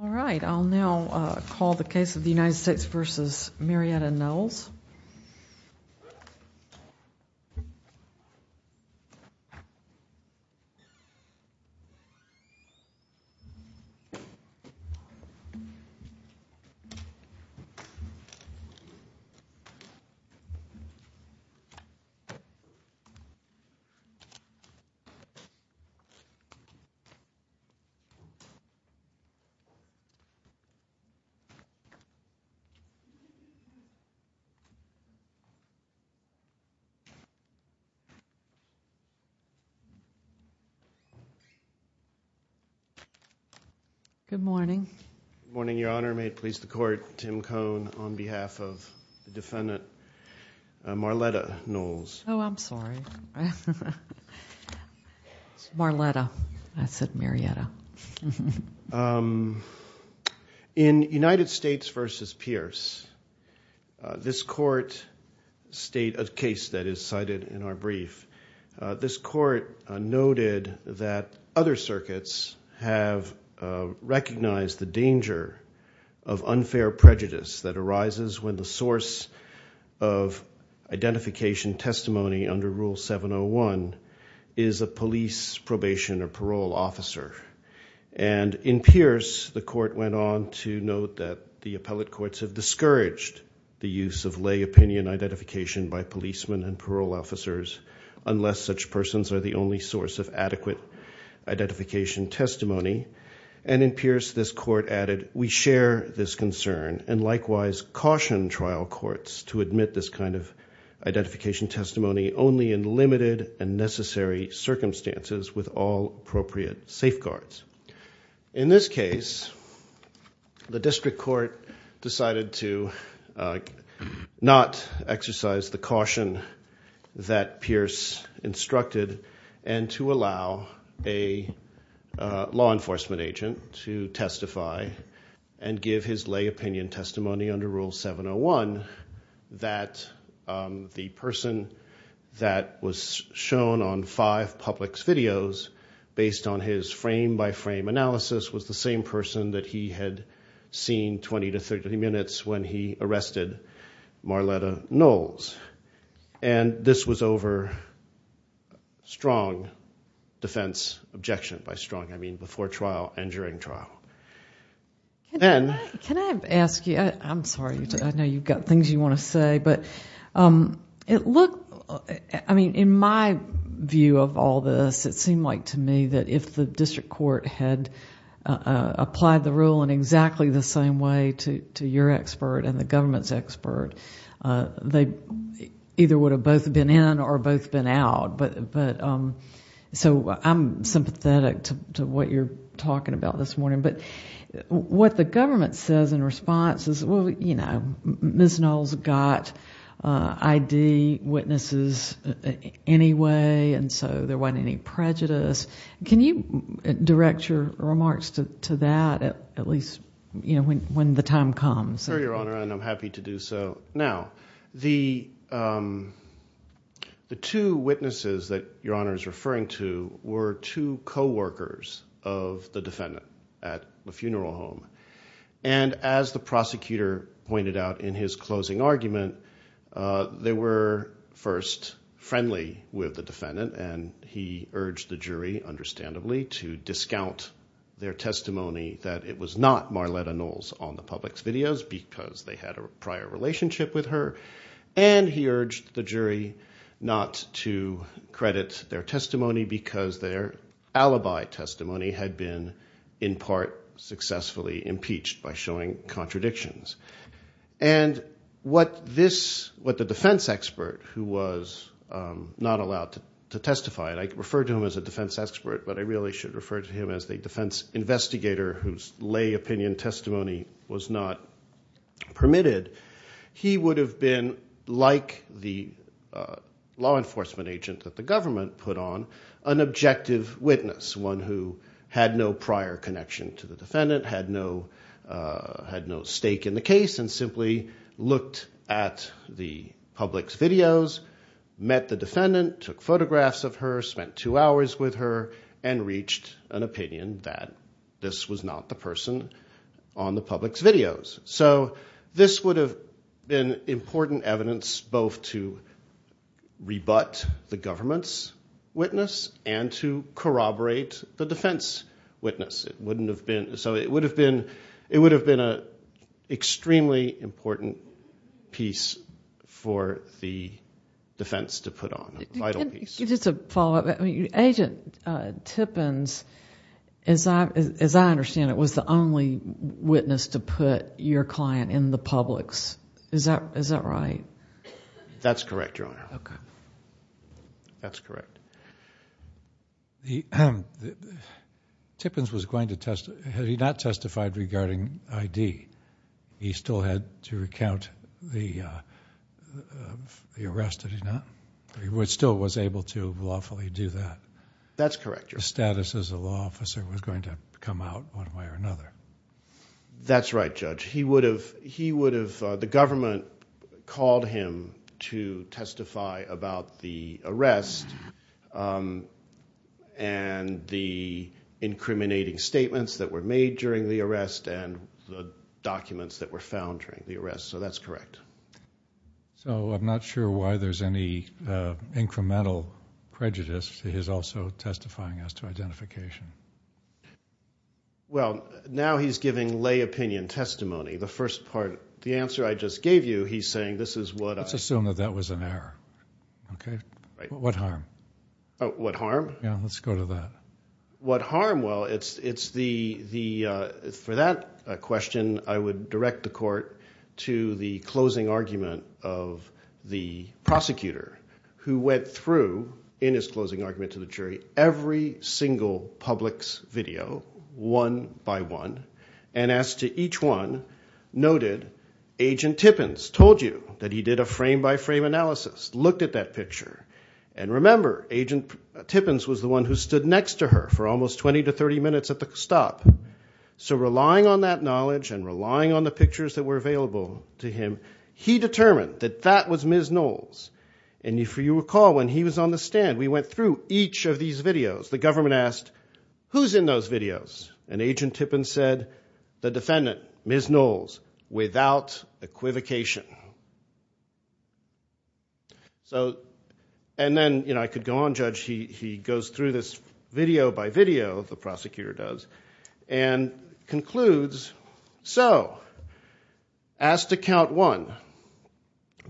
All right, I'll now call the case of the United States v. Marletta Knowles. All right, I'll now call the case of the United States v. Marletta Knowles. Good morning. Good morning, Your Honor. May it please the Court, Tim Cohn on behalf of the defendant Marletta Knowles. Oh, I'm sorry. Marletta. I said Marietta. In United States v. Pierce, this court state of case that is cited in our brief, this court noted that other circuits have recognized the danger of unfair prejudice that arises when the source of identification testimony under Rule 701 is a police probation or parole officer. And in Pierce, the court went on to note that the appellate courts have discouraged the use of lay opinion identification by policemen and parole officers unless such persons are the only source of adequate identification testimony. And in Pierce, this court added, we share this concern and likewise caution trial courts to admit this kind of identification testimony only in limited and necessary circumstances with all appropriate safeguards. In this case, the district court decided to not exercise the caution that Pierce instructed and to allow a law enforcement agent to testify and give his lay opinion testimony under Rule 701 that the person that was shown on five Publix videos based on his frame-by-frame analysis was the same person that he had seen 20 to 30 minutes when he arrested Marletta Knowles. And this was over strong defense objection, by strong I mean before trial and during trial. Then... Can I ask you, I'm sorry, I know you've got things you want to say, but it looked... I mean, in my view of all this, it seemed like to me that if the district court had applied the rule in exactly the same way to your expert and the government's expert, they either would have both been in or both been out. So I'm sympathetic to what you're talking about this morning. But what the government says in response is, well, you know, Ms. Knowles got ID witnesses anyway, and so there wasn't any prejudice. Can you direct your remarks to that at least when the time comes? Sure, Your Honor, and I'm happy to do so. Now, the two witnesses that Your Honor is referring to were two coworkers of the defendant at the funeral home. And as the prosecutor pointed out in his closing argument, they were first friendly with the defendant, and he urged the jury, understandably, to discount their testimony that it was not Marletta Knowles on the public's videos because they had a prior relationship with her. And he urged the jury not to credit their testimony because their alibi testimony had been, in part, successfully impeached by showing contradictions. And what the defense expert, who was not allowed to testify, and I refer to him as a defense expert, but I really should refer to him as a defense investigator whose lay opinion testimony was not permitted. He would have been, like the law enforcement agent that the government put on, an objective witness, one who had no prior connection to the defendant, had no stake in the case, and simply looked at the public's videos, met the defendant, took photographs of her, spent two hours with her, and reached an opinion that this was not the person on the public's videos. So this would have been important evidence both to rebut the government's witness and to corroborate the defense witness. So it would have been an extremely important piece for the defense to put on, a vital piece. Just a follow-up. Agent Tippins, as I understand it, was the only witness to put your client in the public's. Is that right? That's correct, Your Honor. Okay. That's correct. Tippins was going to testify. Had he not testified regarding I.D., he still had to recount the arrest, had he not? He still was able to lawfully do that. That's correct, Your Honor. The status as a law officer was going to come out one way or another. That's right, Judge. He would have – the government called him to testify about the arrest and the incriminating statements that were made during the arrest and the documents that were found during the arrest. So that's correct. So I'm not sure why there's any incremental prejudice. He is also testifying as to identification. Well, now he's giving lay opinion testimony. The first part, the answer I just gave you, he's saying this is what I – Let's assume that that was an error. What harm? What harm? Yeah, let's go to that. What harm? Well, it's the – for that question, I would direct the court to the closing argument of the prosecutor who went through in his closing argument to the jury every single Publix video one by one and as to each one noted, Agent Tippins told you that he did a frame-by-frame analysis, looked at that picture. And remember, Agent Tippins was the one who stood next to her for almost 20 to 30 minutes at the stop. So relying on that knowledge and relying on the pictures that were available to him, he determined that that was Ms. Knowles. And if you recall, when he was on the stand, we went through each of these videos. The government asked, who's in those videos? And Agent Tippins said, the defendant, Ms. Knowles, without equivocation. So – and then I could go on, Judge. He goes through this video by video, the prosecutor does, and concludes, so as to count one,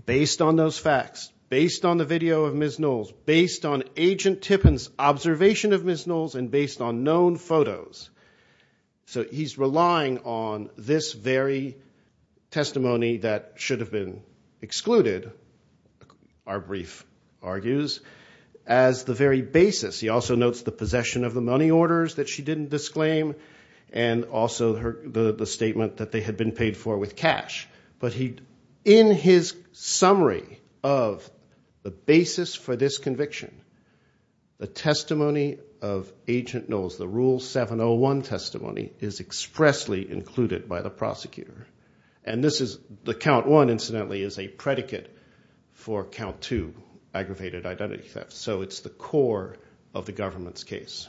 based on those facts, based on the video of Ms. Knowles, based on Agent Tippins' observation of Ms. Knowles, and based on known photos. So he's relying on this very testimony that should have been excluded, our brief argues, as the very basis. He also notes the possession of the money orders that she didn't disclaim and also the statement that they had been paid for with cash. But in his summary of the basis for this conviction, the testimony of Agent Knowles, the Rule 701 testimony, is expressly included by the prosecutor. And this is – the count one, incidentally, is a predicate for count two, aggravated identity theft. So it's the core of the government's case.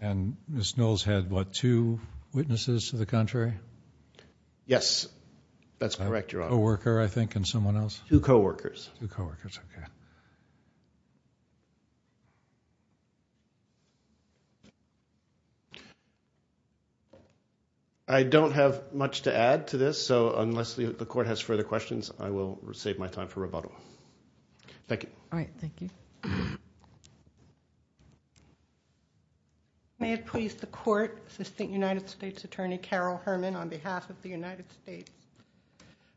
And Ms. Knowles had, what, two witnesses to the contrary? Yes, that's correct, Your Honor. A co-worker, I think, and someone else? Two co-workers. Two co-workers, okay. I don't have much to add to this, so unless the Court has further questions, I will save my time for rebuttal. Thank you. All right, thank you. May it please the Court, Assistant United States Attorney Carol Herman on behalf of the United States.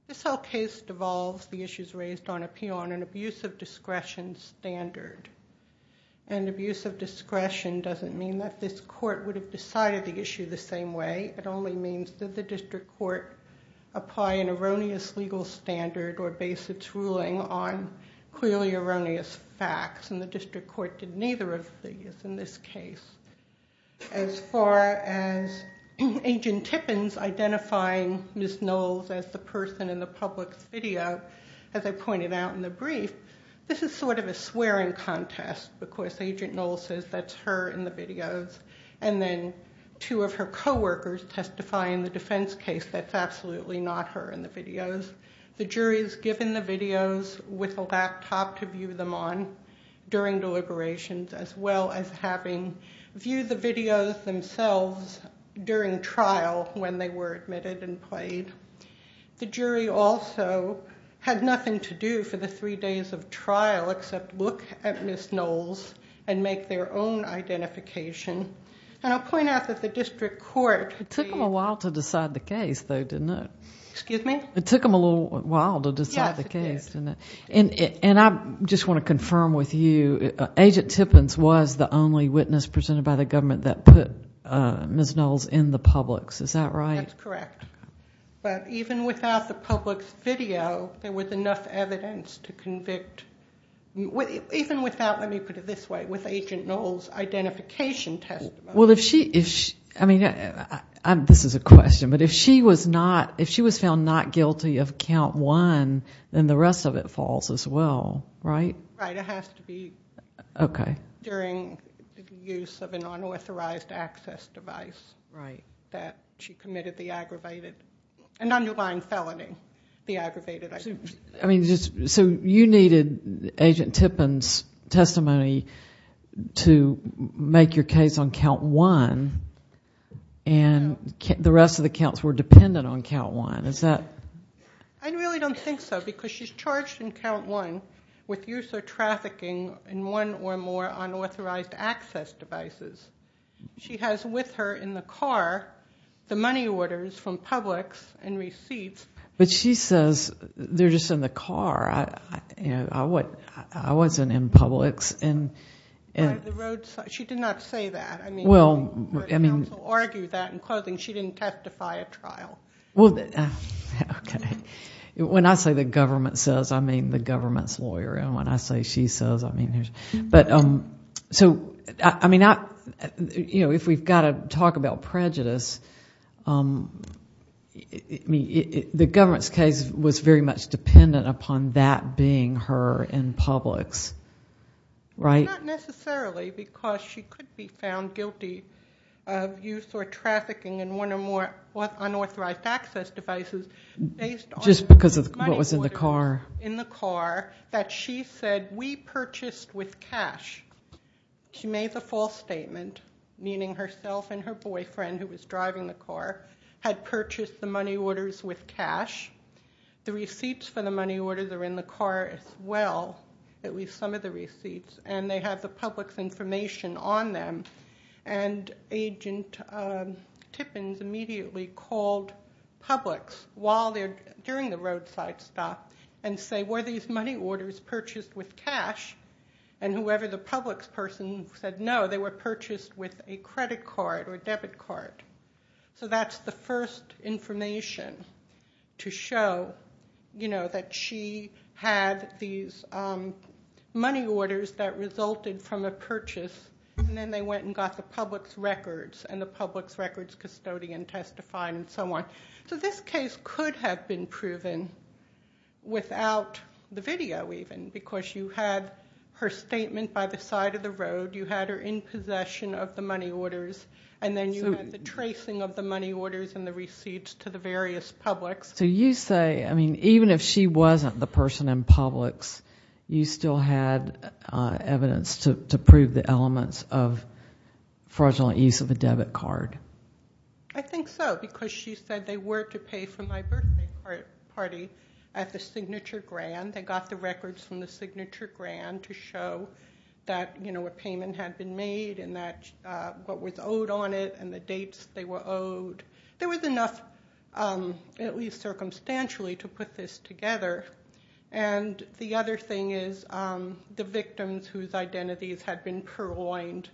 This whole case devolves the issues raised on appeal on an abuse of discretion standard. And abuse of discretion doesn't mean that this Court would have decided the issue the same way. It only means that the District Court apply an erroneous legal standard or base its ruling on clearly erroneous facts, and the District Court did neither of these in this case. As far as Agent Tippins identifying Ms. Knowles as the person in the public's video, as I pointed out in the brief, this is sort of a swearing contest because Agent Knowles says that's her in the videos, and then two of her co-workers testify in the defense case that's absolutely not her in the videos. The jury is given the videos with a laptop to view them on during deliberations, as well as having viewed the videos themselves during trial when they were admitted and played. The jury also had nothing to do for the three days of trial except look at Ms. Knowles and make their own identification. And I'll point out that the District Court... It took them a while to decide the case, though, didn't it? Excuse me? It took them a little while to decide the case, didn't it? Yes, it did. And I just want to confirm with you, Agent Tippins was the only witness presented by the government that put Ms. Knowles in the public's. Is that right? That's correct. But even without the public's video, there was enough evidence to convict... Even without, let me put it this way, with Agent Knowles' identification testimony... Well, if she... I mean, this is a question, but if she was found not guilty of Count 1, then the rest of it falls as well, right? Right. It has to be... Okay.... during the use of an unauthorized access device... Right.... that she committed the aggravated... an underlying felony, the aggravated... I mean, so you needed Agent Tippins' testimony to make your case on Count 1... So... I really don't think so, because she's charged in Count 1 with use or trafficking in one or more unauthorized access devices. She has with her in the car the money orders from Publix and receipts... But she says they're just in the car. I wasn't in Publix and... She did not say that. Well, I mean... She didn't testify at trial. Well... Okay. When I say the government says, I mean the government's lawyer, and when I say she says, I mean... But... So, I mean, I... You know, if we've got to talk about prejudice, the government's case was very much dependent upon that being her in Publix, right? Not necessarily, because she could be found guilty of use or trafficking in one or more unauthorized access devices based on... Just because of what was in the car. In the car, that she said, we purchased with cash. She made the false statement, meaning herself and her boyfriend, who was driving the car, had purchased the money orders with cash. The receipts for the money orders are in the car as well, at least some of the receipts. And, they have the Publix information on them. And, Agent Tippins immediately called Publix while they're... during the roadside stop and say, were these money orders purchased with cash? And, whoever the Publix person said no, they were purchased with a credit card or debit card. So, that's the first information to show, you know, that she had these money orders that resulted from a purchase. And, then they went and got the Publix records. And, the Publix records custodian testified and so on. So, this case could have been proven without the video even, because you had her statement by the side of the road. You had her in possession of the money orders. And, then you had the tracing of the money orders and the receipts to the various Publix. So, you say, I mean, even if she wasn't the person in Publix, you still had evidence to prove the elements of fraudulent use of a debit card? I think so, because she said they were to pay for my birthday party at the signature grand. They got the records from the signature grand to show that a payment had been made and what was owed on it and the dates they were owed. There was enough, at least circumstantially, to put this together. And, the other thing is the victims whose identities had been purloined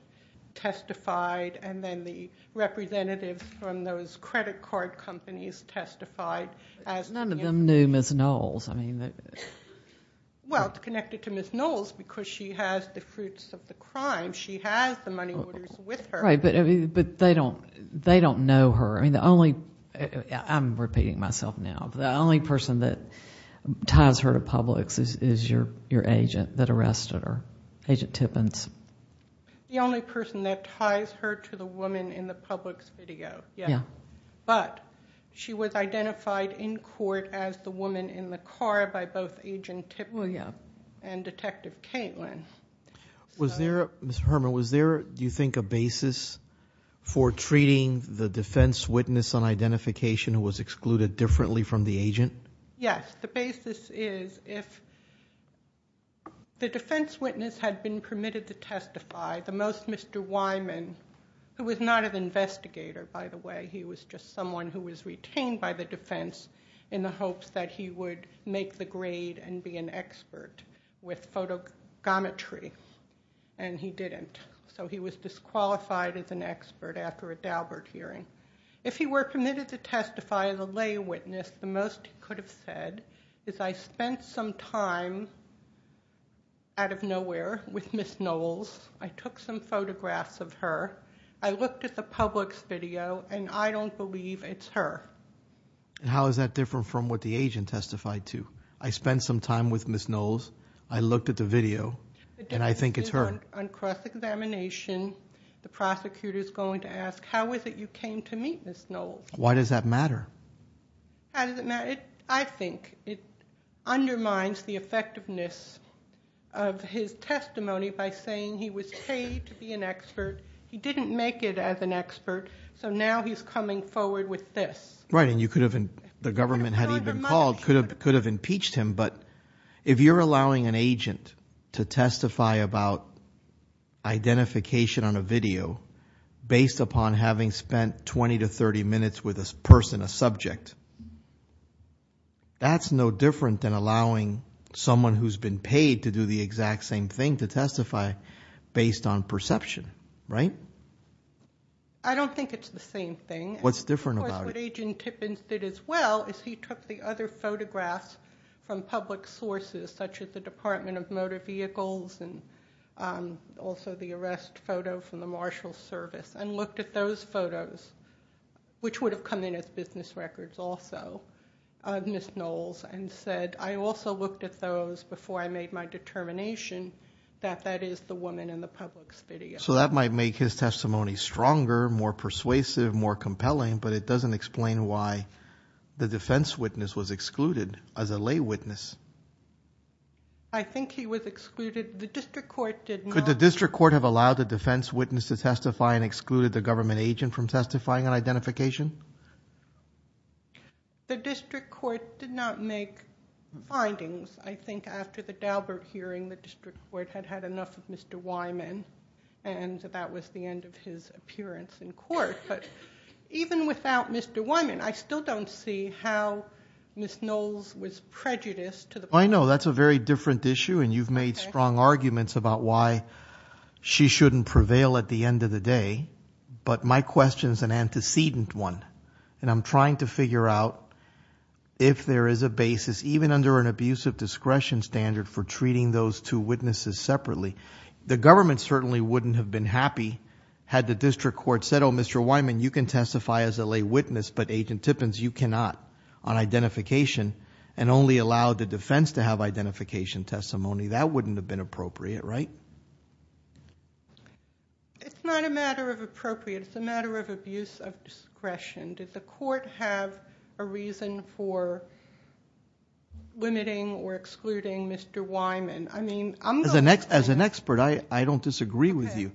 testified. And, then the representatives from those credit card companies testified. None of them knew Ms. Knowles. Well, it's connected to Ms. Knowles, because she has the fruits of the crime. She has the money orders with her. Right, but they don't know her. I'm repeating myself now. The only person that ties her to Publix is your agent that arrested her, Agent Tippins. The only person that ties her to the woman in the Publix video, yes. But, she was identified in court as the woman in the car by both Agent Tippins and Detective Katelyn. Ms. Herman, was there, do you think, a basis for treating the defense witness on identification who was excluded differently from the agent? Yes, the basis is if the defense witness had been permitted to testify, the most Mr. Wyman, who was not an investigator, by the way, he was just someone who was retained by the defense in the hopes that he would make the grade and be an expert with photogometry, and he didn't. So, he was disqualified as an expert after a Daubert hearing. If he were permitted to testify as a lay witness, the most he could have said is, I spent some time out of nowhere with Ms. Knowles. I took some photographs of her. I looked at the Publix video, and I don't believe it's her. How is that different from what the agent testified to? I spent some time with Ms. Knowles. I looked at the video, and I think it's her. On cross-examination, the prosecutor's going to ask, how is it you came to meet Ms. Knowles? Why does that matter? How does it matter? I think it undermines the effectiveness of his testimony by saying he was paid to be an expert. He didn't make it as an expert, so now he's coming forward with this. Right, and the government had even called, could have impeached him. But if you're allowing an agent to testify about identification on a video based upon having spent 20 to 30 minutes with a person, a subject, that's no different than allowing someone who's been paid to do the exact same thing to testify based on perception, right? I don't think it's the same thing. What's different about it? Of course, what Agent Tippins did as well is he took the other photographs from public sources, such as the Department of Motor Vehicles and also the arrest photo from the Marshals Service, and looked at those photos, which would have come in as business records also, Ms. Knowles, and said, I also looked at those before I made my determination that that is the woman in the public's video. So that might make his testimony stronger, more persuasive, more compelling, but it doesn't explain why the defense witness was excluded as a lay witness. I think he was excluded. The district court did not. Could the district court have allowed the defense witness to testify and excluded the government agent from testifying on identification? The district court did not make findings. I think after the Daubert hearing, the district court had had enough of Mr. Wyman, and that was the end of his appearance in court. But even without Mr. Wyman, I still don't see how Ms. Knowles was prejudiced. I know. That's a very different issue, and you've made strong arguments about why she shouldn't prevail at the end of the day. But my question is an antecedent one, and I'm trying to figure out if there is a basis, even under an abusive discretion standard, for treating those two witnesses separately. The government certainly wouldn't have been happy had the district court said, no, Mr. Wyman, you can testify as a lay witness, but Agent Tippins, you cannot on identification and only allow the defense to have identification testimony. That wouldn't have been appropriate, right? It's not a matter of appropriate. It's a matter of abuse of discretion. Did the court have a reason for limiting or excluding Mr. Wyman? I mean, I'm going to say that. As an expert, I don't disagree with you,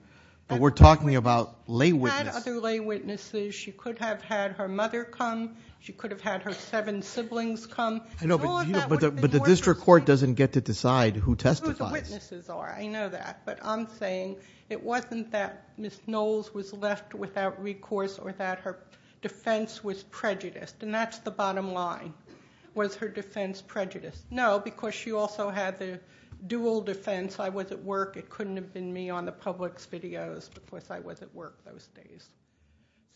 but we're talking about lay witness. She could have had other lay witnesses. She could have had her mother come. She could have had her seven siblings come. But the district court doesn't get to decide who testifies. I know who the witnesses are. I know that, but I'm saying it wasn't that Ms. Knowles was left without recourse or that her defense was prejudiced, and that's the bottom line, was her defense prejudiced. No, because she also had the dual defense. I was at work. It couldn't have been me on the public's videos, because I was at work those days.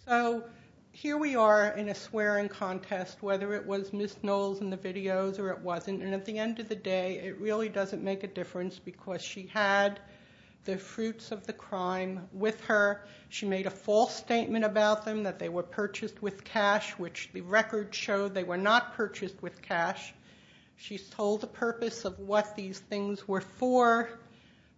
So here we are in a swearing contest, whether it was Ms. Knowles in the videos or it wasn't. And at the end of the day, it really doesn't make a difference, because she had the fruits of the crime with her. She made a false statement about them, that they were purchased with cash, which the records show they were not purchased with cash. She told the purpose of what these things were for.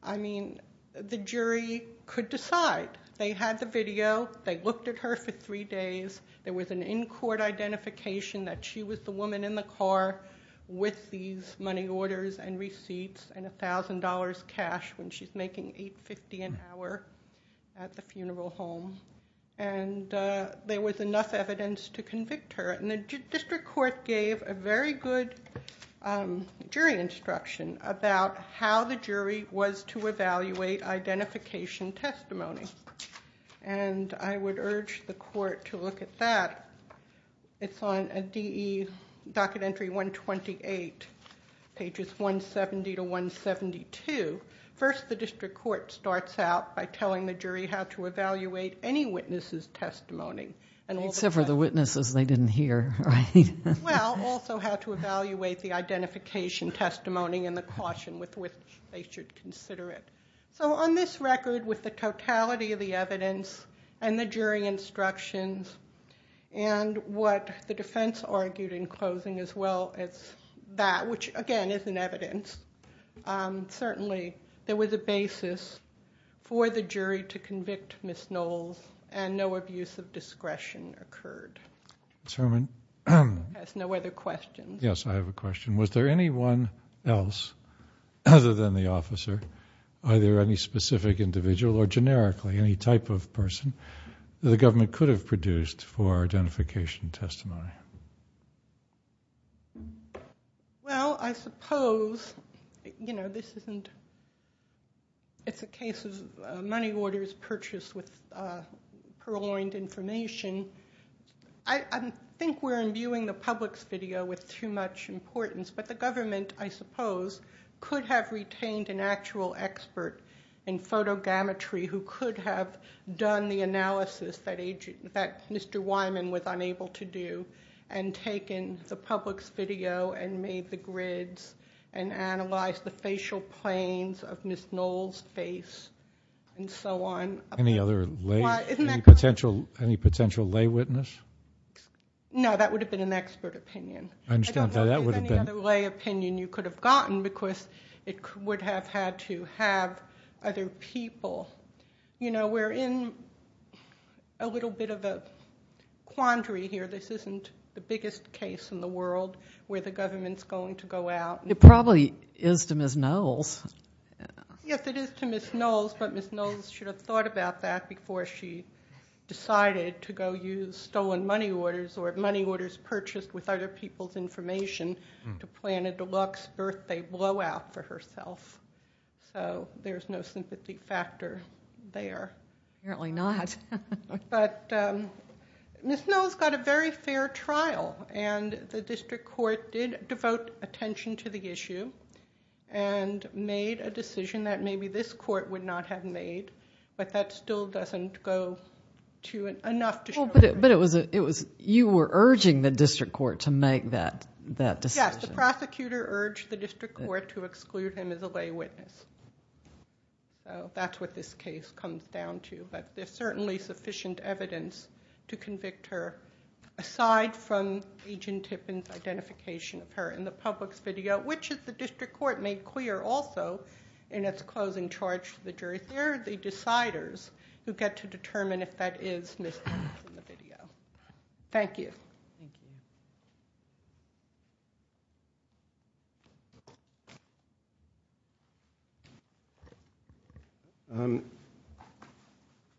I mean, the jury could decide. They had the video. They looked at her for three days. There was an in-court identification that she was the woman in the car with these money orders and receipts and $1,000 cash when she's making $8.50 an hour at the funeral home. And there was enough evidence to convict her. And the district court gave a very good jury instruction about how the jury was to evaluate identification testimony. And I would urge the court to look at that. It's on a DE Docket Entry 128, pages 170 to 172. First, the district court starts out by telling the jury how to evaluate any witness's testimony. Except for the witnesses they didn't hear, right? Well, also how to evaluate the identification testimony and the caution with which they should consider it. So on this record, with the totality of the evidence and the jury instructions and what the defense argued in closing as well as that, which, again, isn't evidence, certainly there was a basis for the jury to convict Ms. Knowles and no abuse of discretion occurred. Ms. Herman? I have no other questions. Yes, I have a question. Was there anyone else other than the officer, either any specific individual or generically any type of person that the government could have produced for identification testimony? Well, I suppose, you know, this isn't... This is money orders purchased with purloined information. I think we're imbuing the Publix video with too much importance, but the government, I suppose, could have retained an actual expert in photogrammetry who could have done the analysis that Mr. Wyman was unable to do and analyze the facial planes of Ms. Knowles' face and so on. Any other lay... Isn't that correct? Any potential lay witness? No, that would have been an expert opinion. I understand that. I don't know if there's any other lay opinion you could have gotten because it would have had to have other people. You know, we're in a little bit of a quandary here. This isn't the biggest case in the world where the government's going to go out. It probably is to Ms. Knowles. Yes, it is to Ms. Knowles, but Ms. Knowles should have thought about that before she decided to go use stolen money orders or money orders purchased with other people's information to plan a deluxe birthday blowout for herself. So there's no sympathy factor there. Apparently not. But Ms. Knowles got a very fair trial, and the district court did devote attention to the issue and made a decision that maybe this court would not have made, but that still doesn't go to enough to show... But you were urging the district court to make that decision. Yes, the prosecutor urged the district court to exclude him as a lay witness. That's what this case comes down to, but there's certainly sufficient evidence to convict her aside from Agent Tippins' identification of her in the Publix video, which the district court made clear also in its closing charge to the jury. They're the deciders who get to determine if that is Ms. Knowles in the video. Thank you.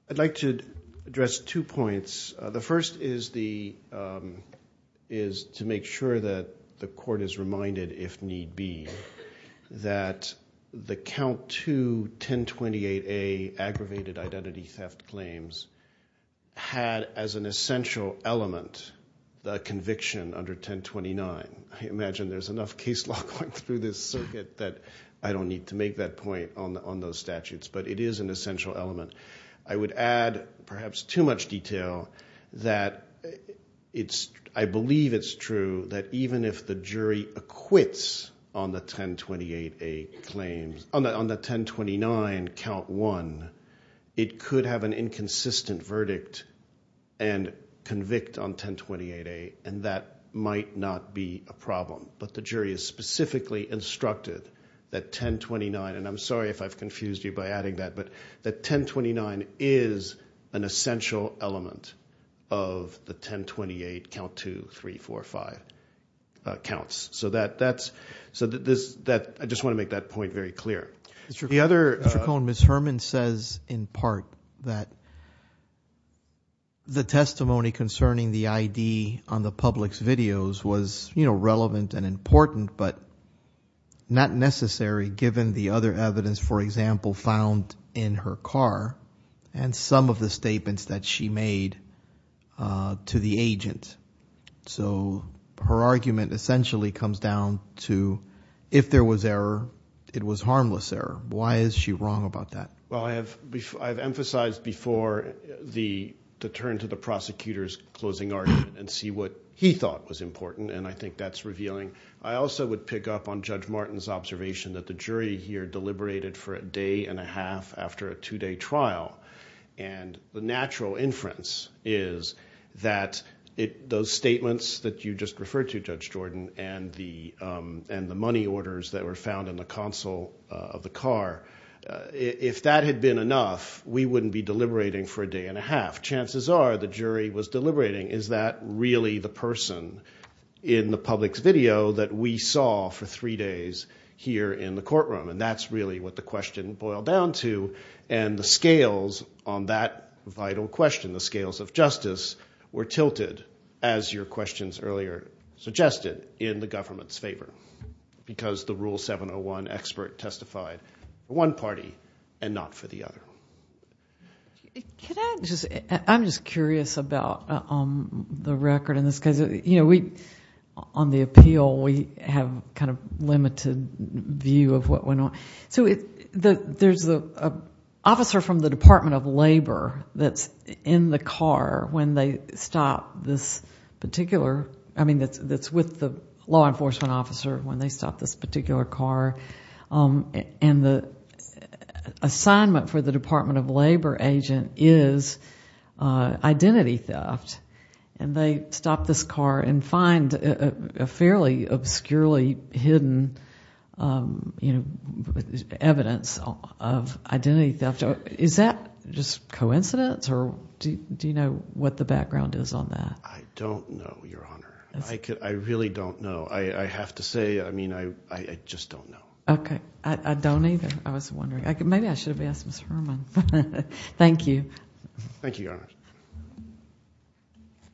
I'd like to address two points. The first is to make sure that the court is reminded, if need be, that the Count II 1028A aggravated identity theft claims had as an essential element the conviction under 1029. I imagine there's enough case law going through this circuit that I don't need to make that point on those statutes, but it is an essential element. I would add, perhaps too much detail, that I believe it's true that even if the jury acquits on the 1028A claims, on the 1029 Count I, it could have an inconsistent verdict and convict on 1028A, and that might not be a problem. But the jury is specifically instructed that 1029, and I'm sorry if I've confused you by adding that, but that 1029 is an essential element of the 1028 Count II, III, IV, V counts. So I just want to make that point very clear. Mr. Cohn, Ms. Herman says in part that the testimony concerning the ID on the public's videos was relevant and important, but not necessary given the other evidence, for example, found in her car and some of the statements that she made to the agent. So her argument essentially comes down to, if there was error, it was harmless error. Why is she wrong about that? Well, I've emphasized before the turn to the prosecutor's closing argument and see what he thought was important, and I think that's revealing. I also would pick up on Judge Martin's observation that the jury here deliberated for a day and a half after a two-day trial, and the natural inference is that those statements that you just referred to, Judge Jordan, and the money orders that were found in the console of the car, if that had been enough, we wouldn't be deliberating for a day and a half. Chances are the jury was deliberating, is that really the person in the public's video that we saw for three days here in the courtroom, and that's really what the question boiled down to, and the scales on that vital question, the scales of justice, were tilted, as your questions earlier suggested, in the government's favor, because the Rule 701 expert testified for one party and not for the other. Can I just... I'm just curious about the record and this, because on the appeal, we have a kind of limited view of what went on. So there's an officer from the Department of Labor that's in the car when they stop this particular... I mean, that's with the law enforcement officer when they stop this particular car, and the assignment for the Department of Labor agent is identity theft, and they stop this car and find a fairly obscurely hidden evidence of identity theft. Is that just coincidence, or do you know what the background is on that? I don't know, Your Honor. I really don't know. I have to say, I mean, I just don't know. Okay. I don't either. I was wondering. Maybe I should have asked Ms. Herman. Thank you. Thank you, Your Honor. Thank you.